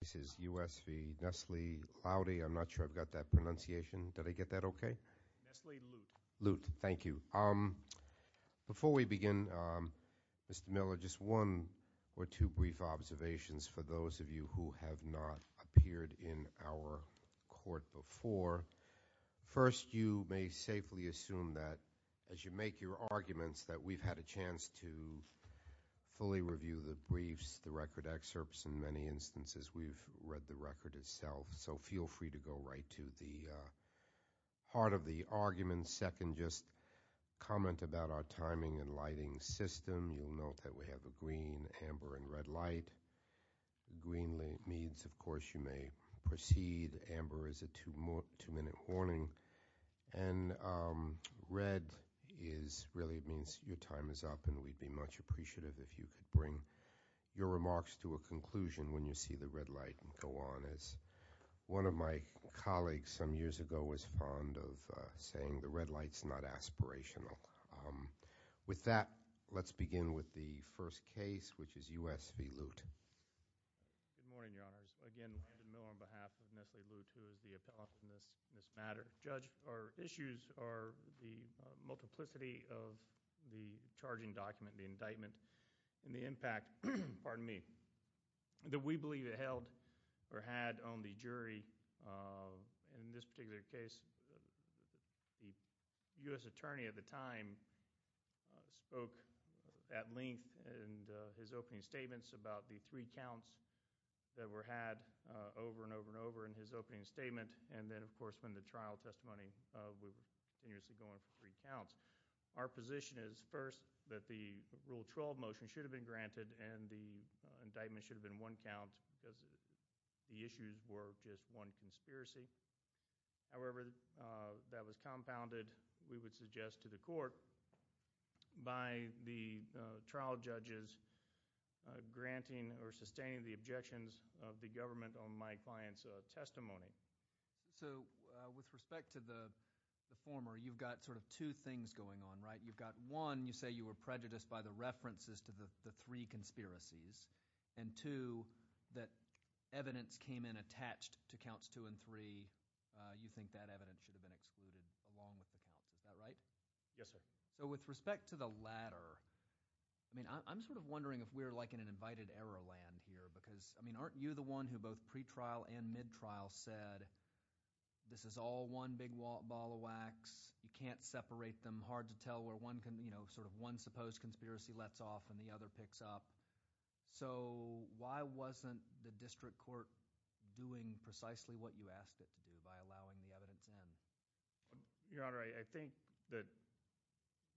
This is U.S. v. Nesly Loute. I'm not sure I've got that pronunciation. Did I get that okay? Nesly Loute. Loute. Thank you. Before we begin, Mr. Miller, just one or two brief observations for those of you who have not appeared in our court before. First, you may safely assume that as you make your arguments that we've had a chance to fully review the briefs, the record excerpts. In many instances, we've read the record itself. So feel free to go right to the heart of the argument. Second, just comment about our timing and lighting system. You'll note that we have a green, amber, and red light. Green means, of course, you may proceed. Amber is a two-minute warning. And red really means your time is up, and we'd be much appreciative if you could bring your remarks to a conclusion when you see the red light and go on. As one of my colleagues some years ago was fond of saying, the red light's not aspirational. With that, let's begin with the first case, which is U.S. v. Loute. Good morning, Your Honors. Again, Landon Miller on behalf of Nestle Loute, who is the appellate in this matter. Judge, our issues are the multiplicity of the charging document, the indictment, and the impact, pardon me, that we believe it held or had on the jury. In this particular case, the U.S. attorney at the time spoke at length in his opening statements about the three counts that were had over and over and over in his opening statement. And then, of course, when the trial testimony, we were continuously going for three counts. Our position is, first, that the Rule 12 motion should have been granted and the indictment should have been one count because the issues were just one conspiracy. However, that was compounded, we would suggest, to the court by the trial judges granting or sustaining the objections of the government on my client's testimony. So, with respect to the former, you've got sort of two things going on, right? You've got, one, you say you were prejudiced by the references to the three conspiracies, and two, that evidence came in attached to counts two and three. You think that evidence should have been excluded along with the counts. Is that right? Yes, sir. So, with respect to the latter, I mean, I'm sort of wondering if we're like in an invited error land here because, I mean, aren't you the one who both pre-trial and mid-trial said, this is all one big ball of wax, you can't separate them, hard to tell where one can, you know, sort of one supposed conspiracy lets off and the other picks up. So, why wasn't the district court doing precisely what you asked it to do by allowing the evidence in? Your Honor, I think that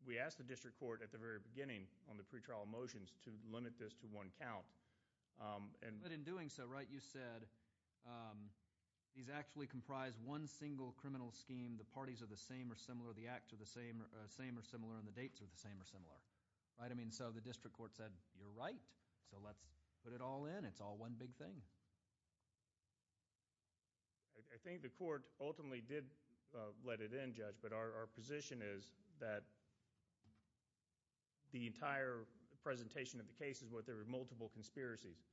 we asked the district court at the very beginning on the pre-trial motions to limit this to one count, and But in doing so, right, you said, these actually comprise one single criminal scheme, the parties are the same or similar, the acts are the same or similar, and the dates are the same or similar, right? I mean, so the district court said, you're right, so let's put it all in, it's all one big thing. I think the court ultimately did let it in, Judge, but our position is that the entire presentation of the case is that there were multiple conspiracies.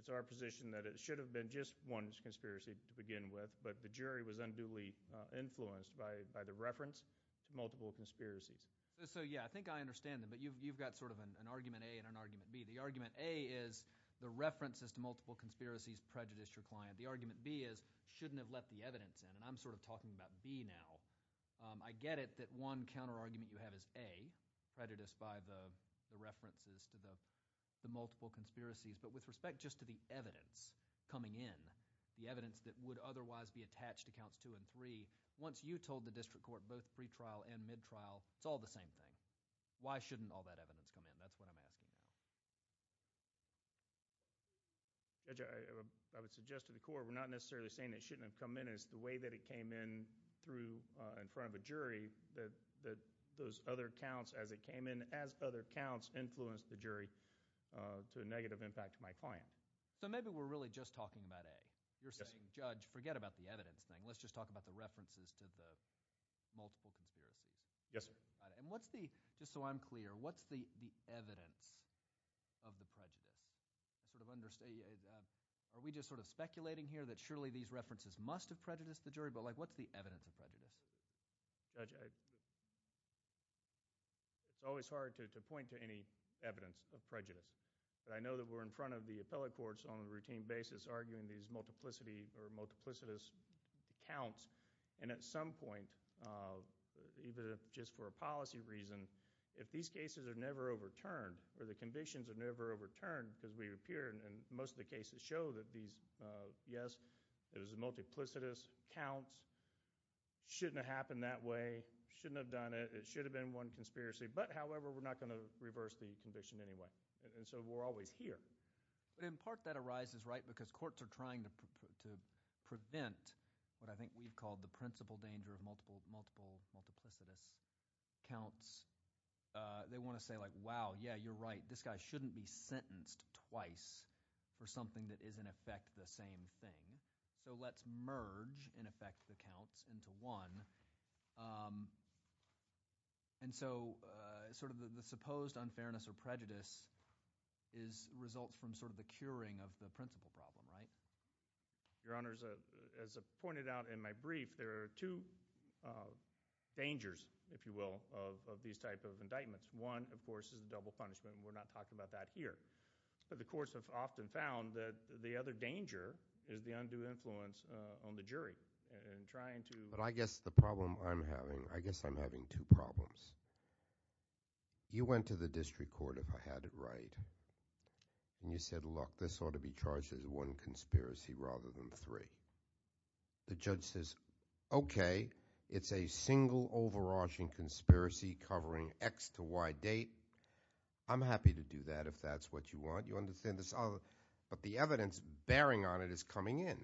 It's our position that it should have been just one conspiracy to begin with, but the jury was unduly influenced by the reference to multiple conspiracies. So, yeah, I think I understand that, but you've got sort of an argument A and an argument B. The argument A is, the references to multiple conspiracies prejudice your client. The argument B is, shouldn't have let the evidence in, and I'm sort of talking about B now. I get it that one counter-argument you have is A, prejudiced by the references to the multiple conspiracies, but with respect just to the evidence coming in, the evidence that would otherwise be attached to counts 2 and 3, once you told the district court both pre-trial and mid-trial, it's all the same thing. Why shouldn't all that evidence come in? That's what I'm asking. Judge, I would suggest to the court, we're not necessarily saying it shouldn't have come in. It's the way that it came in through, in front of a jury, that those other counts as it came in, as other counts, influenced the jury to a negative impact to my client. So maybe we're really just talking about A. You're saying, Judge, forget about the evidence thing. Let's just talk about the references to the multiple conspiracies. Yes, sir. And what's the, just so I'm clear, what's the evidence of the prejudice? Are we just sort of speculating here that surely these references must have prejudiced the jury? But what's the evidence of prejudice? Judge, it's always hard to point to any evidence of prejudice. I know that we're in front of the appellate courts on a routine basis arguing these multiplicity or multiplicitous counts. And at some point, even if just for a policy reason, if these cases are never overturned, or the convictions are never overturned, because we appear in most of the cases show that these, yes, it was a multiplicitous count, shouldn't have happened that way, shouldn't have done it, it should have been one conspiracy, but however, we're not going to reverse the conviction anyway. And so we're always here. In part, that arises, right, because courts are trying to prevent what I think we've called the principal danger of multiple multiplicitous counts. They want to say, like, wow, yeah, you're right, this guy shouldn't be sentenced twice for something that is, in effect, the same thing. So let's merge, in effect, the counts into one. And so sort of the supposed unfairness or prejudice results from sort of the curing of the principal problem, right? Your Honor, as I pointed out in my brief, there are two dangers, if you will, of these type of indictments. One, of course, is the double punishment, and we're not talking about that here. But the courts have often found that the other danger is the undue influence on the jury in trying to – but I guess the problem I'm having – I guess I'm having two problems. You went to the district court, if I had it right, and you said, look, this ought to be charged as one conspiracy rather than three. The judge says, okay, it's a single overarching conspiracy covering X to Y date. I'm happy to do that if that's what you want. You understand this – but the evidence bearing on it is coming in.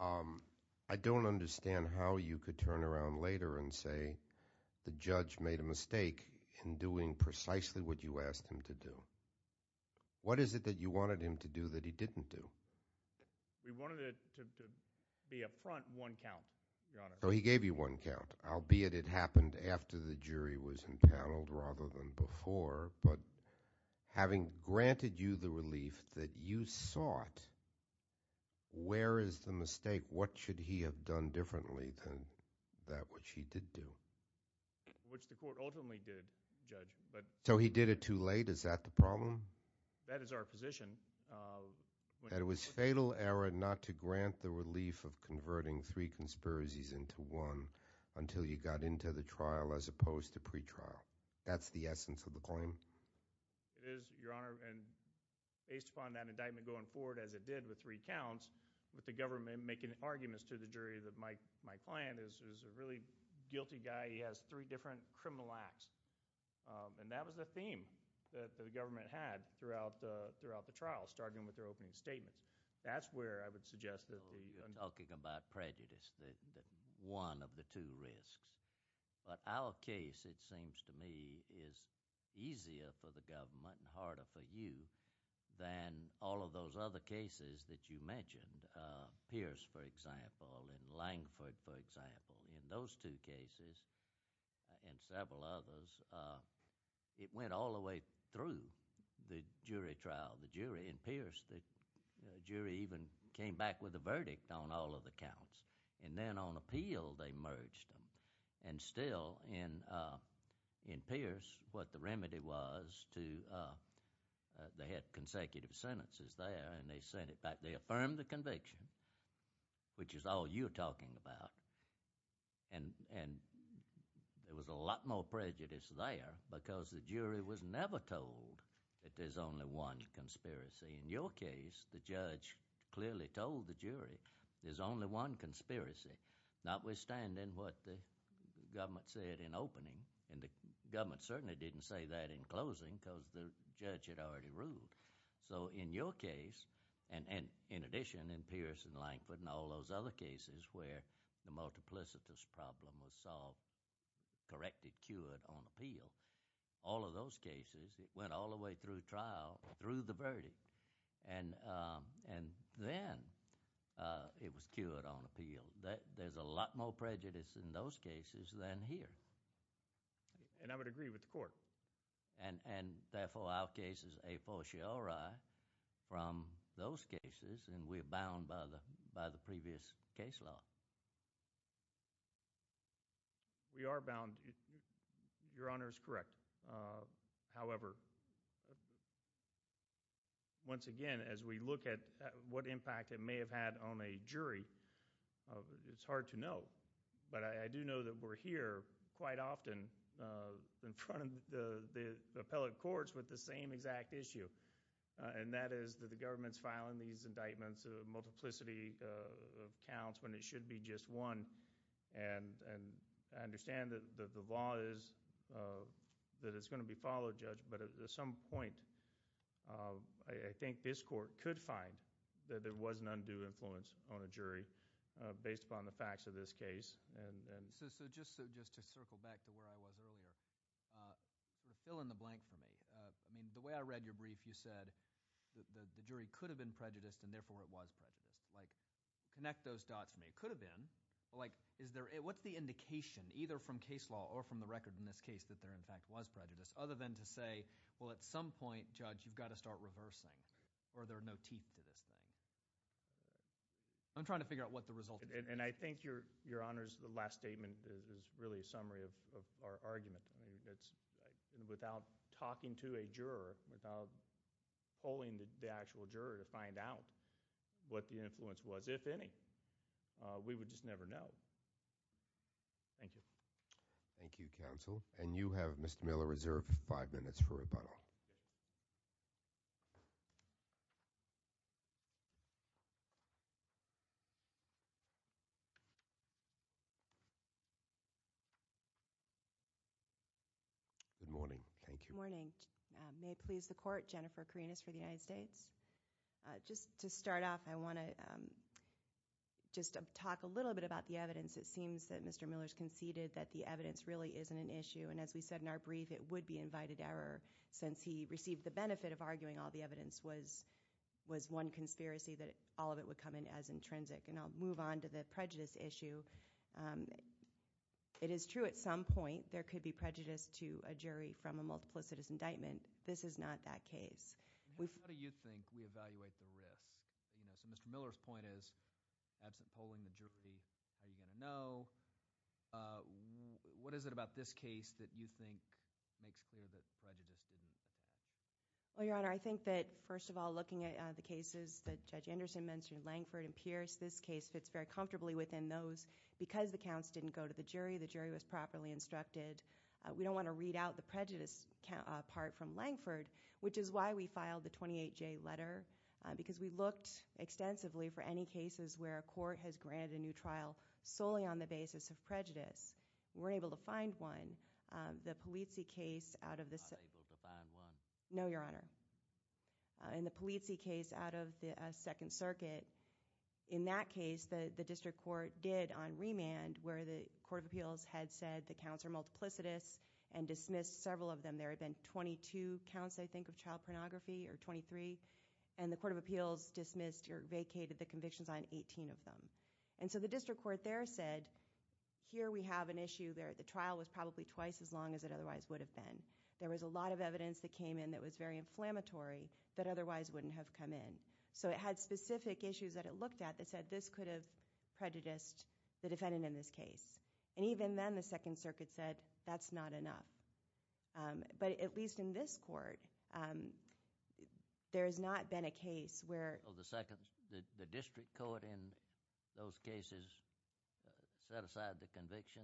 I don't understand how you could turn around later and say the judge made a mistake in doing precisely what you asked him to do. What is it that you wanted him to do that he didn't do? We wanted it to be up front one count, Your Honor. So he gave you one count, albeit it happened after the jury was impaneled rather than before. But having granted you the relief that you sought, where is the mistake? What should he have done differently than that which he did do? Which the court ultimately did, Judge. So he did it too late? Is that the problem? That is our position. That it was fatal error not to grant the relief of converting three conspiracies into one until you got into the trial as opposed to pretrial. That's the essence of the claim? It is, Your Honor, and based upon that indictment going forward as it did with three counts, with the government making arguments to the jury that my client is a really guilty guy. He has three different criminal acts. And that was the theme that the government had throughout the trial, starting with their opening statements. That's where I would suggest that the – that one of the two risks. But our case, it seems to me, is easier for the government and harder for you than all of those other cases that you mentioned. Pierce, for example, and Langford, for example. In those two cases and several others, it went all the way through the jury trial. The jury in Pierce, the jury even came back with a verdict on all of the counts. And then on appeal, they merged them. And still in Pierce, what the remedy was to – they had consecutive sentences there and they sent it back. They affirmed the conviction, which is all you're talking about. And there was a lot more prejudice there because the jury was never told that there's only one conspiracy. In your case, the judge clearly told the jury there's only one conspiracy, notwithstanding what the government said in opening. And the government certainly didn't say that in closing because the judge had already ruled. So in your case, and in addition in Pierce and Langford and all those other cases where the multiplicitous problem was solved, corrected, cured on appeal, all of those cases, it went all the way through trial, through the verdict. And then it was cured on appeal. There's a lot more prejudice in those cases than here. And I would agree with the court. And therefore, our case is a fortiori from those cases and we're bound by the previous case law. We are bound. Your Honor is correct. However, once again, as we look at what impact it may have had on a jury, it's hard to know. But I do know that we're here quite often in front of the appellate courts with the same exact issue, and that is that the government's filing these indictments of multiplicity of counts when it should be just one. And I understand that the law is that it's going to be followed, Judge, but at some point I think this court could find that there was an undue influence on a jury based upon the facts of this case. So just to circle back to where I was earlier, fill in the blank for me. I mean the way I read your brief, you said the jury could have been prejudiced and therefore it was prejudiced. Connect those dots for me. It could have been, but what's the indication either from case law or from the record in this case that there in fact was prejudice other than to say, well, at some point, Judge, you've got to start reversing or there are no teeth to this thing? I'm trying to figure out what the result is. And I think, Your Honors, the last statement is really a summary of our argument. Without talking to a juror, without polling the actual juror to find out what the influence was, if any, we would just never know. Thank you. Thank you, Counsel. And you have, Mr. Miller, reserved five minutes for rebuttal. Good morning. Thank you. Good morning. May it please the Court, Jennifer Karinas for the United States. Just to start off, I want to just talk a little bit about the evidence. It seems that Mr. Miller has conceded that the evidence really isn't an issue. And as we said in our brief, it would be invited error since he received the benefit of arguing all the evidence was one conspiracy that all of it would come in as intrinsic. And I'll move on to the prejudice issue. It is true at some point there could be prejudice to a jury from a multiplicitous indictment. This is not that case. How do you think we evaluate the risk? So Mr. Miller's point is absent polling the jury, how are you going to know? What is it about this case that you think makes clear that prejudice didn't exist? Well, Your Honor, I think that first of all, looking at the cases that Judge Anderson mentioned, Langford and Pierce, this case fits very comfortably within those. Because the counts didn't go to the jury, the jury was properly instructed. We don't want to read out the prejudice part from Langford, which is why we filed the 28-J letter. Because we looked extensively for any cases where a court has granted a new trial solely on the basis of prejudice. We weren't able to find one. The Polizzi case out of the- Not able to find one? No, Your Honor. In the Polizzi case out of the Second Circuit, in that case, the district court did on remand, where the court of appeals had said the counts are multiplicitous and dismissed several of them. There had been 22 counts, I think, of child pornography, or 23. And the court of appeals dismissed or vacated the convictions on 18 of them. And so the district court there said, here we have an issue where the trial was probably twice as long as it otherwise would have been. There was a lot of evidence that came in that was very inflammatory that otherwise wouldn't have come in. So it had specific issues that it looked at that said this could have prejudiced the defendant in this case. And even then, the Second Circuit said, that's not enough. But at least in this court, there has not been a case where- Oh, the district court in those cases set aside the conviction?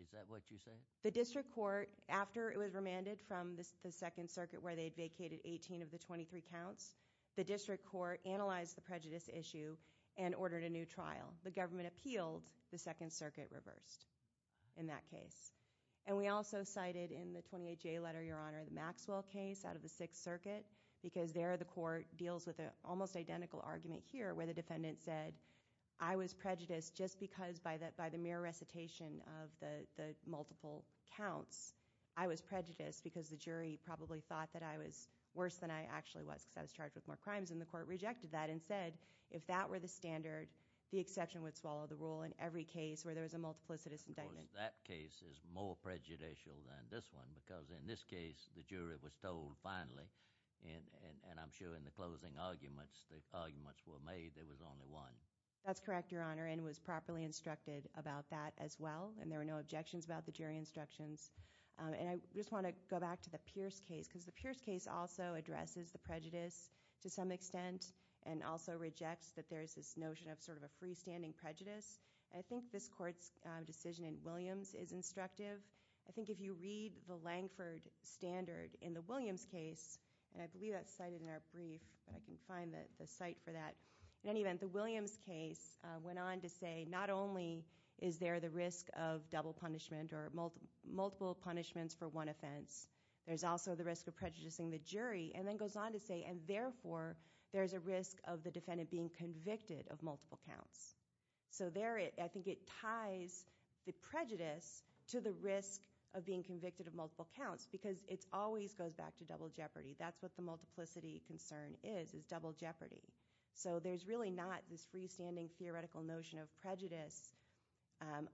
Is that what you said? The district court, after it was remanded from the Second Circuit where they had vacated 18 of the 23 counts, the district court analyzed the prejudice issue and ordered a new trial. The government appealed. The Second Circuit reversed in that case. And we also cited in the 28-J letter, Your Honor, the Maxwell case out of the Sixth Circuit, because there the court deals with an almost identical argument here where the defendant said, I was prejudiced just because by the mere recitation of the multiple counts, I was prejudiced because the jury probably thought that I was worse than I actually was because I was charged with more crimes. And the court rejected that and said, if that were the standard, the exception would swallow the rule in every case where there was a multiplicitous indictment. That case is more prejudicial than this one because in this case, the jury was told finally, and I'm sure in the closing arguments, the arguments were made there was only one. That's correct, Your Honor, and was properly instructed about that as well. And there were no objections about the jury instructions. And I just want to go back to the Pierce case because the Pierce case also addresses the prejudice to some extent and also rejects that there is this notion of sort of a freestanding prejudice. I think this court's decision in Williams is instructive. I think if you read the Langford standard in the Williams case, and I believe that's cited in our brief, but I can find the site for that. In any event, the Williams case went on to say not only is there the risk of double punishment or multiple punishments for one offense, there's also the risk of prejudicing the jury, and then goes on to say, and therefore, there's a risk of the defendant being convicted of multiple counts. So there, I think it ties the prejudice to the risk of being convicted of multiple counts because it always goes back to double jeopardy. That's what the multiplicity concern is, is double jeopardy. So there's really not this freestanding theoretical notion of prejudice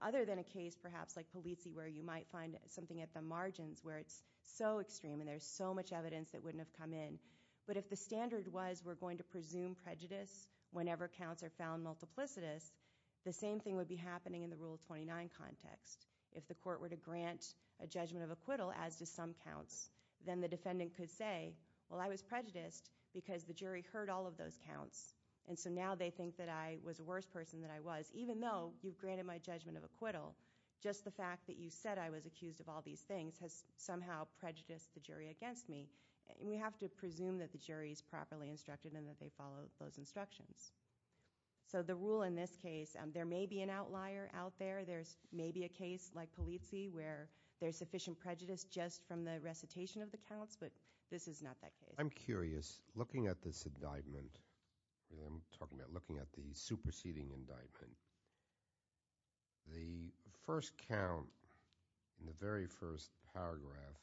other than a case perhaps like Polizzi where you might find something at the margins where it's so extreme and there's so much evidence that wouldn't have come in. But if the standard was we're going to presume prejudice whenever counts are found multiplicitous, the same thing would be happening in the Rule 29 context. If the court were to grant a judgment of acquittal as to some counts, then the defendant could say, well, I was prejudiced because the jury heard all of those counts, and so now they think that I was a worse person than I was. Even though you've granted my judgment of acquittal, just the fact that you said I was accused of all these things has somehow prejudiced the jury against me. We have to presume that the jury is properly instructed and that they follow those instructions. So the rule in this case, there may be an outlier out there. There may be a case like Polizzi where there's sufficient prejudice just from the recitation of the counts, but this is not that case. I'm curious, looking at this indictment, looking at the superseding indictment, the first count in the very first paragraph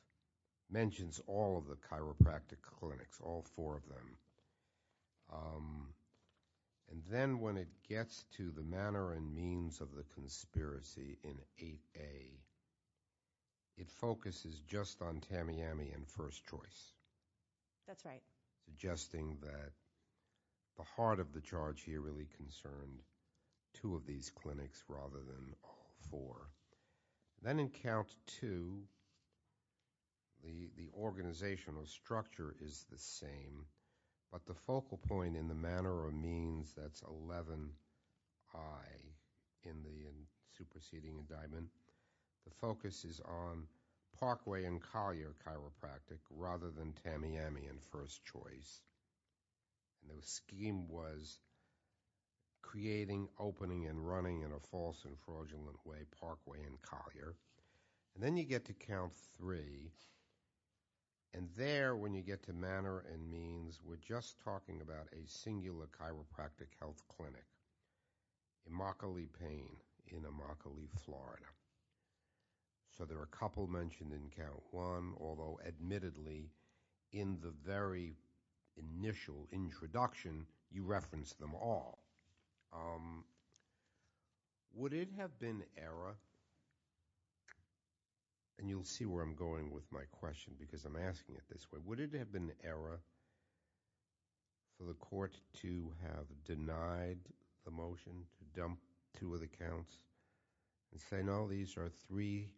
mentions all of the chiropractic clinics, all four of them. And then when it gets to the manner and means of the conspiracy in 8A, it focuses just on Tamiami and first choice. That's right. Suggesting that the heart of the charge here really concerned two of these clinics rather than all four. Then in count two, the organizational structure is the same, but the focal point in the manner or means, that's 11I in the superseding indictment, the focus is on Parkway and Collier chiropractic rather than Tamiami and first choice. The scheme was creating, opening, and running in a false and fraudulent way Parkway and Collier. And then you get to count three, and there when you get to manner and means, we're just talking about a singular chiropractic health clinic, Immokalee Pain in Immokalee, Florida. So there are a couple mentioned in count one, although admittedly in the very initial introduction you referenced them all. Would it have been error, and you'll see where I'm going with my question because I'm asking it this way, would it have been error for the court to have denied the motion to dump two of the counts and say, no, these are three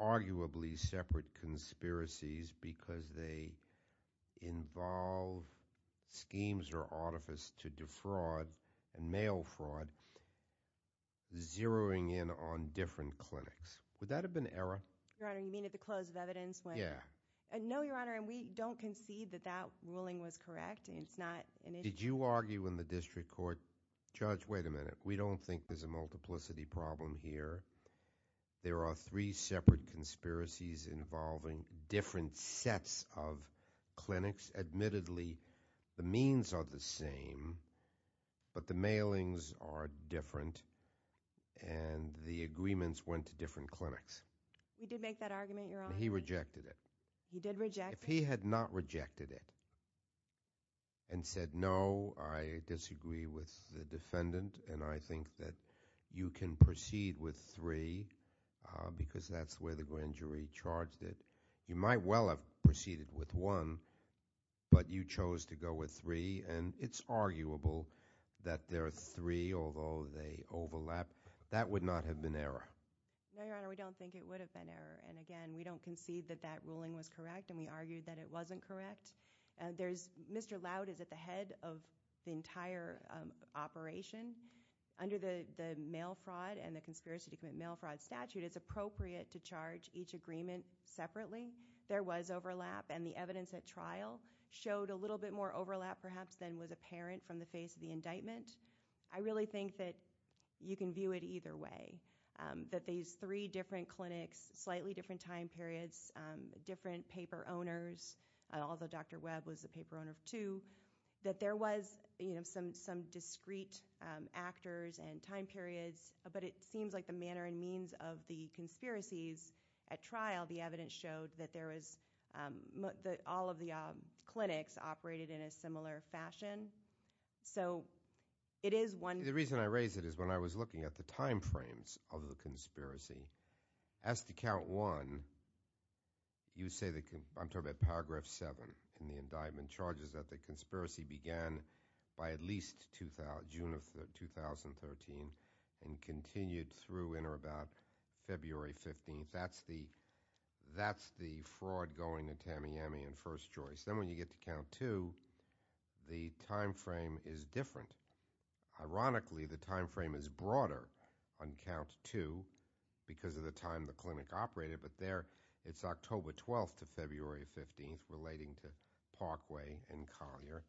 arguably separate conspiracies because they involve schemes or artifice to defraud and mail fraud zeroing in on different clinics. Would that have been error? Your Honor, you mean at the close of evidence when- Yeah. No, Your Honor, and we don't concede that that ruling was correct. It's not an issue. Did you argue in the district court, Judge, wait a minute. We don't think there's a multiplicity problem here. There are three separate conspiracies involving different sets of clinics. Admittedly, the means are the same, but the mailings are different, and the agreements went to different clinics. We did make that argument, Your Honor. He rejected it. He did reject it? If he had not rejected it and said, no, I disagree with the defendant, and I think that you can proceed with three because that's where the grand jury charged it, you might well have proceeded with one, but you chose to go with three, and it's arguable that there are three, although they overlap. That would not have been error. No, Your Honor, we don't think it would have been error. And again, we don't concede that that ruling was correct, and we argued that it wasn't correct. Mr. Loud is at the head of the entire operation. Under the mail fraud and the conspiracy to commit mail fraud statute, it's appropriate to charge each agreement separately. There was overlap, and the evidence at trial showed a little bit more overlap perhaps than was apparent from the face of the indictment. I really think that you can view it either way, that these three different clinics, slightly different time periods, different paper owners, although Dr. Webb was the paper owner of two, that there was some discrete actors and time periods, but it seems like the manner and means of the conspiracies at trial, the evidence showed that all of the clinics operated in a similar fashion. So it is one- The reason I raise it is when I was looking at the time frames of the conspiracy, as to count one, you say that I'm talking about paragraph seven in the indictment, charges that the conspiracy began by at least June of 2013 and continued through in or about February 15th. That's the fraud going to Tamiami and First Choice. Then when you get to count two, the time frame is different. Ironically, the time frame is broader on count two because of the time the clinic operated, but there it's October 12th to February 15th relating to Parkway and Collier.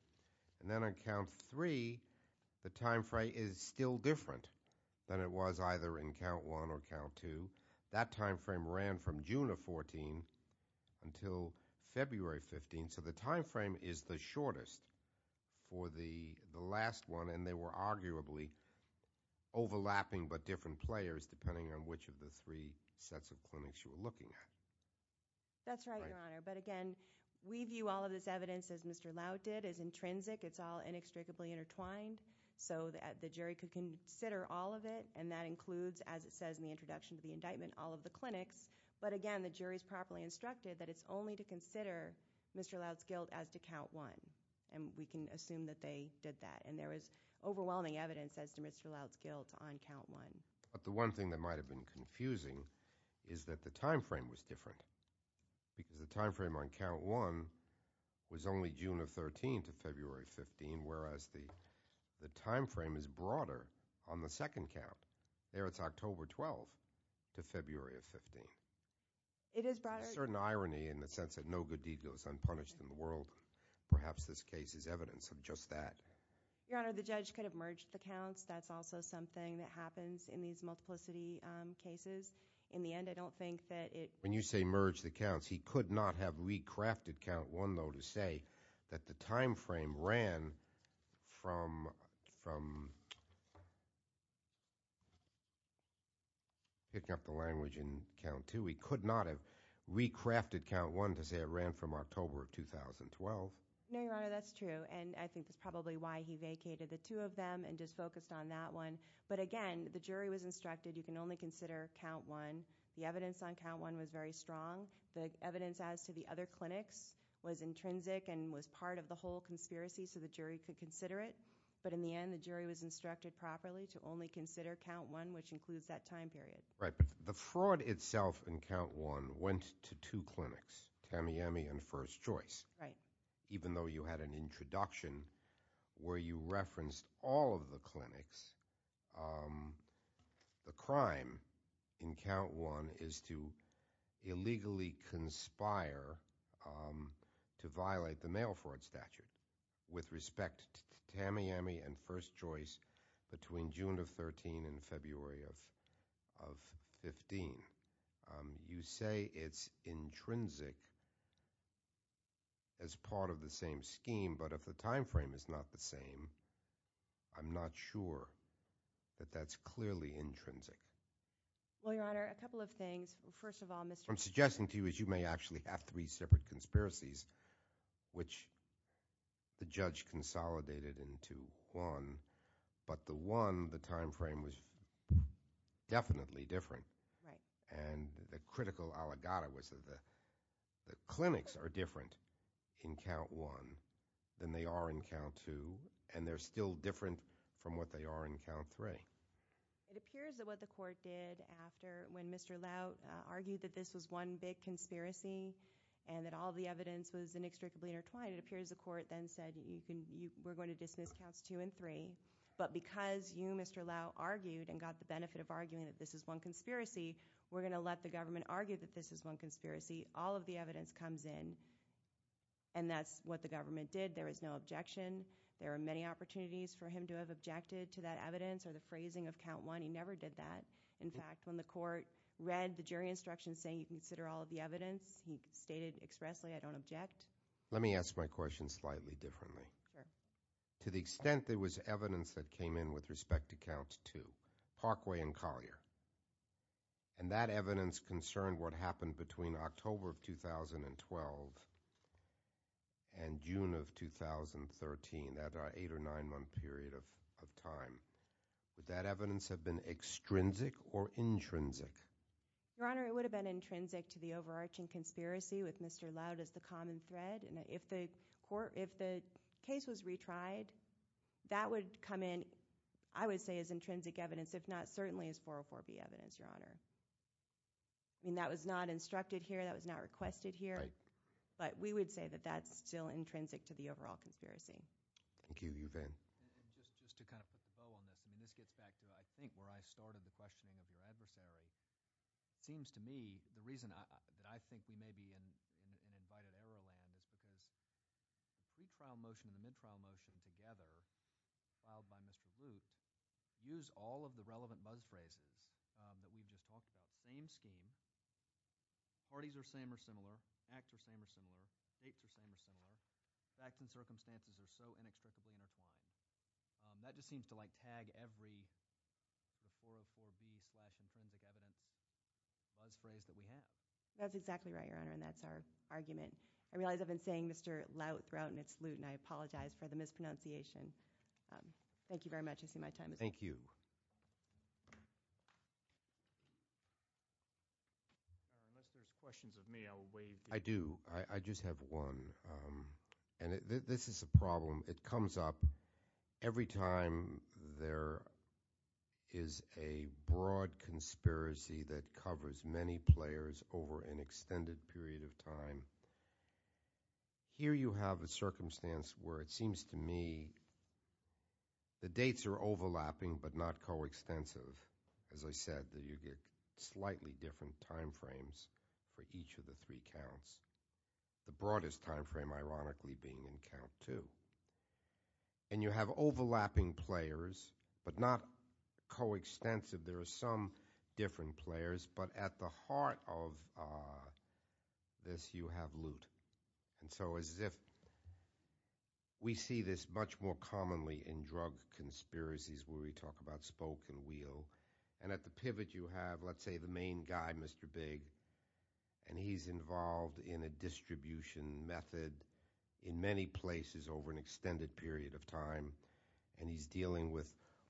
Then on count three, the time frame is still different than it was either in count one or count two. That time frame ran from June of 14 until February 15th. So the time frame is the shortest for the last one, and they were arguably overlapping but different players depending on which of the three sets of clinics you were looking at. That's right, Your Honor. But again, we view all of this evidence, as Mr. Laud did, as intrinsic. It's all inextricably intertwined so that the jury could consider all of it, and that includes, as it says in the introduction to the indictment, all of the clinics. But again, the jury is properly instructed that it's only to consider Mr. Laud's guilt as to count one, and we can assume that they did that. There was overwhelming evidence as to Mr. Laud's guilt on count one. But the one thing that might have been confusing is that the time frame was different because the time frame on count one was only June of 13 to February 15, whereas the time frame is broader on the second count. There it's October 12 to February of 15. It is broader. There's a certain irony in the sense that no good deed goes unpunished in the world. Perhaps this case is evidence of just that. Your Honor, the judge could have merged the counts. That's also something that happens in these multiplicity cases. In the end, I don't think that it – When you say merge the counts, he could not have recrafted count one, though, to say that the time frame ran from – picking up the language in count two. He could not have recrafted count one to say it ran from October of 2012. No, Your Honor, that's true, and I think that's probably why he vacated the two of them and just focused on that one. But again, the jury was instructed you can only consider count one. The evidence on count one was very strong. The evidence as to the other clinics was intrinsic and was part of the whole conspiracy so the jury could consider it. But in the end, the jury was instructed properly to only consider count one, which includes that time period. Right, but the fraud itself in count one went to two clinics, Tamiami and First Choice. Right. Even though you had an introduction where you referenced all of the clinics, the crime in count one is to illegally conspire to violate the mail fraud statute with respect to Tamiami and First Choice between June of 2013 and February of 2015. You say it's intrinsic as part of the same scheme, but if the time frame is not the same, I'm not sure that that's clearly intrinsic. Well, Your Honor, a couple of things. First of all, Mr. – What I'm suggesting to you is you may actually have three separate conspiracies, which the judge consolidated into one, but the one, the time frame was definitely different. Right. And the critical allegata was that the clinics are different in count one than they are in count two, and they're still different from what they are in count three. It appears that what the court did after – when Mr. Laut argued that this was one big conspiracy and that all the evidence was inextricably intertwined, it appears the court then said we're going to dismiss counts two and three, but because you, Mr. Laut, argued and got the benefit of arguing that this is one conspiracy, we're going to let the government argue that this is one conspiracy. All of the evidence comes in, and that's what the government did. There was no objection. There are many opportunities for him to have objected to that evidence or the phrasing of count one. He never did that. In fact, when the court read the jury instructions saying you consider all of the evidence, he stated expressly, I don't object. Let me ask my question slightly differently. Sure. To the extent there was evidence that came in with respect to count two, Parkway and Collier, and that evidence concerned what happened between October of 2012 and June of 2013, that eight- or nine-month period of time. Would that evidence have been extrinsic or intrinsic? Your Honor, it would have been intrinsic to the overarching conspiracy with Mr. Laut as the common thread. If the case was retried, that would come in, I would say, as intrinsic evidence, if not certainly as 404B evidence, Your Honor. That was not instructed here. That was not requested here. But we would say that that's still intrinsic to the overall conspiracy. Thank you. You, Van. Just to kind of put the bow on this, this gets back to I think where I started the questioning of your adversary. It seems to me the reason that I think we may be in invited error land is because the pre-trial motion and the mid-trial motion together, filed by Mr. Laut, use all of the relevant buzz phrases that we just talked about. Same scheme. Parties are same or similar. Acts are same or similar. States are same or similar. Facts and circumstances are so inextricably intertwined. That just seems to like tag every 404B slash intrinsic evidence buzz phrase that we have. That's exactly right, Your Honor, and that's our argument. I realize I've been saying Mr. Laut throughout in its loot, and I apologize for the mispronunciation. Thank you very much. I see my time is up. Thank you. Unless there's questions of me, I will waive. I do. I just have one. This is a problem. It comes up every time there is a broad conspiracy that covers many players over an extended period of time. Here you have a circumstance where it seems to me the dates are overlapping but not coextensive. As I said, you get slightly different time frames for each of the three counts. The broadest time frame, ironically, being in count two. And you have overlapping players but not coextensive. There are some different players, but at the heart of this you have loot. And so as if we see this much more commonly in drug conspiracies where we talk about spoke and wheel, and at the pivot you have, let's say, the main guy, Mr. Big, and he's involved in a distribution method in many places over an extended period of time, and he's dealing with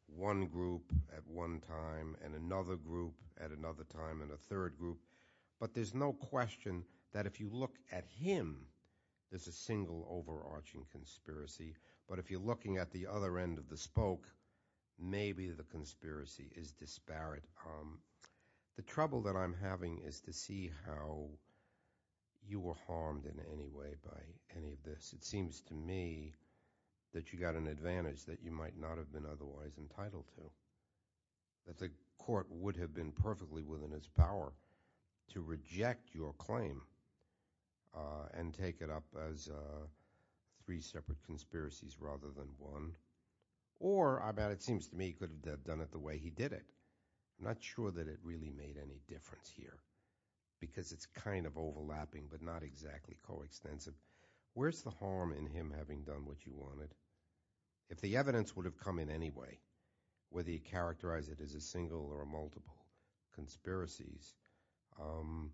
one group at one time and another group at another time and a third group. But there's no question that if you look at him, there's a single overarching conspiracy. But if you're looking at the other end of the spoke, maybe the conspiracy is disparate. The trouble that I'm having is to see how you were harmed in any way by any of this. It seems to me that you got an advantage that you might not have been otherwise entitled to, that the court would have been perfectly within its power to reject your claim and take it up as three separate conspiracies rather than one. Or it seems to me he could have done it the way he did it. I'm not sure that it really made any difference here because it's kind of overlapping but not exactly coextensive. Where's the harm in him having done what you wanted? If the evidence would have come in anyway, whether you characterize it as a single or a multiple conspiracy, it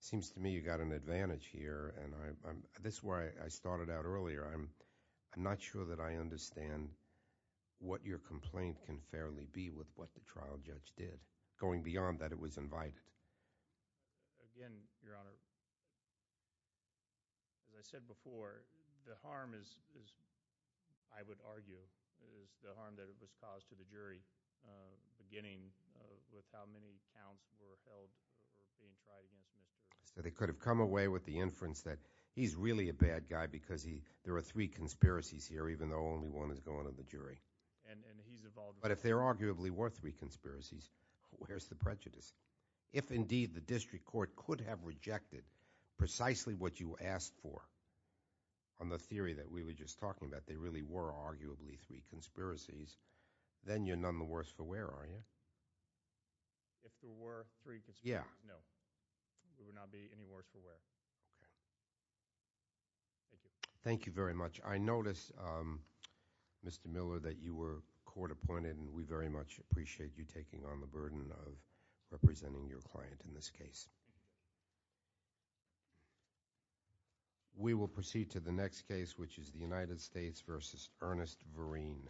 seems to me you got an advantage here, and this is where I started out earlier. I'm not sure that I understand what your complaint can fairly be with what the trial judge did, going beyond that it was invited. Again, Your Honor, as I said before, the harm is, I would argue, is the harm that it was caused to the jury beginning with how many counts were held or being tried against Mr. Williams. So they could have come away with the inference that he's really a bad guy because there are three conspiracies here, even though only one is going to the jury. And he's involved. But if there arguably were three conspiracies, where's the prejudice? If indeed the district court could have rejected precisely what you asked for, on the theory that we were just talking about, there really were arguably three conspiracies, then you're none the worse for wear, are you? If there were three conspiracies, no. We would not be any worse for wear. Thank you very much. I noticed, Mr. Miller, that you were court appointed, and we very much appreciate you taking on the burden of representing your client in this case. We will proceed to the next case, which is the United States v. Ernest Vereen.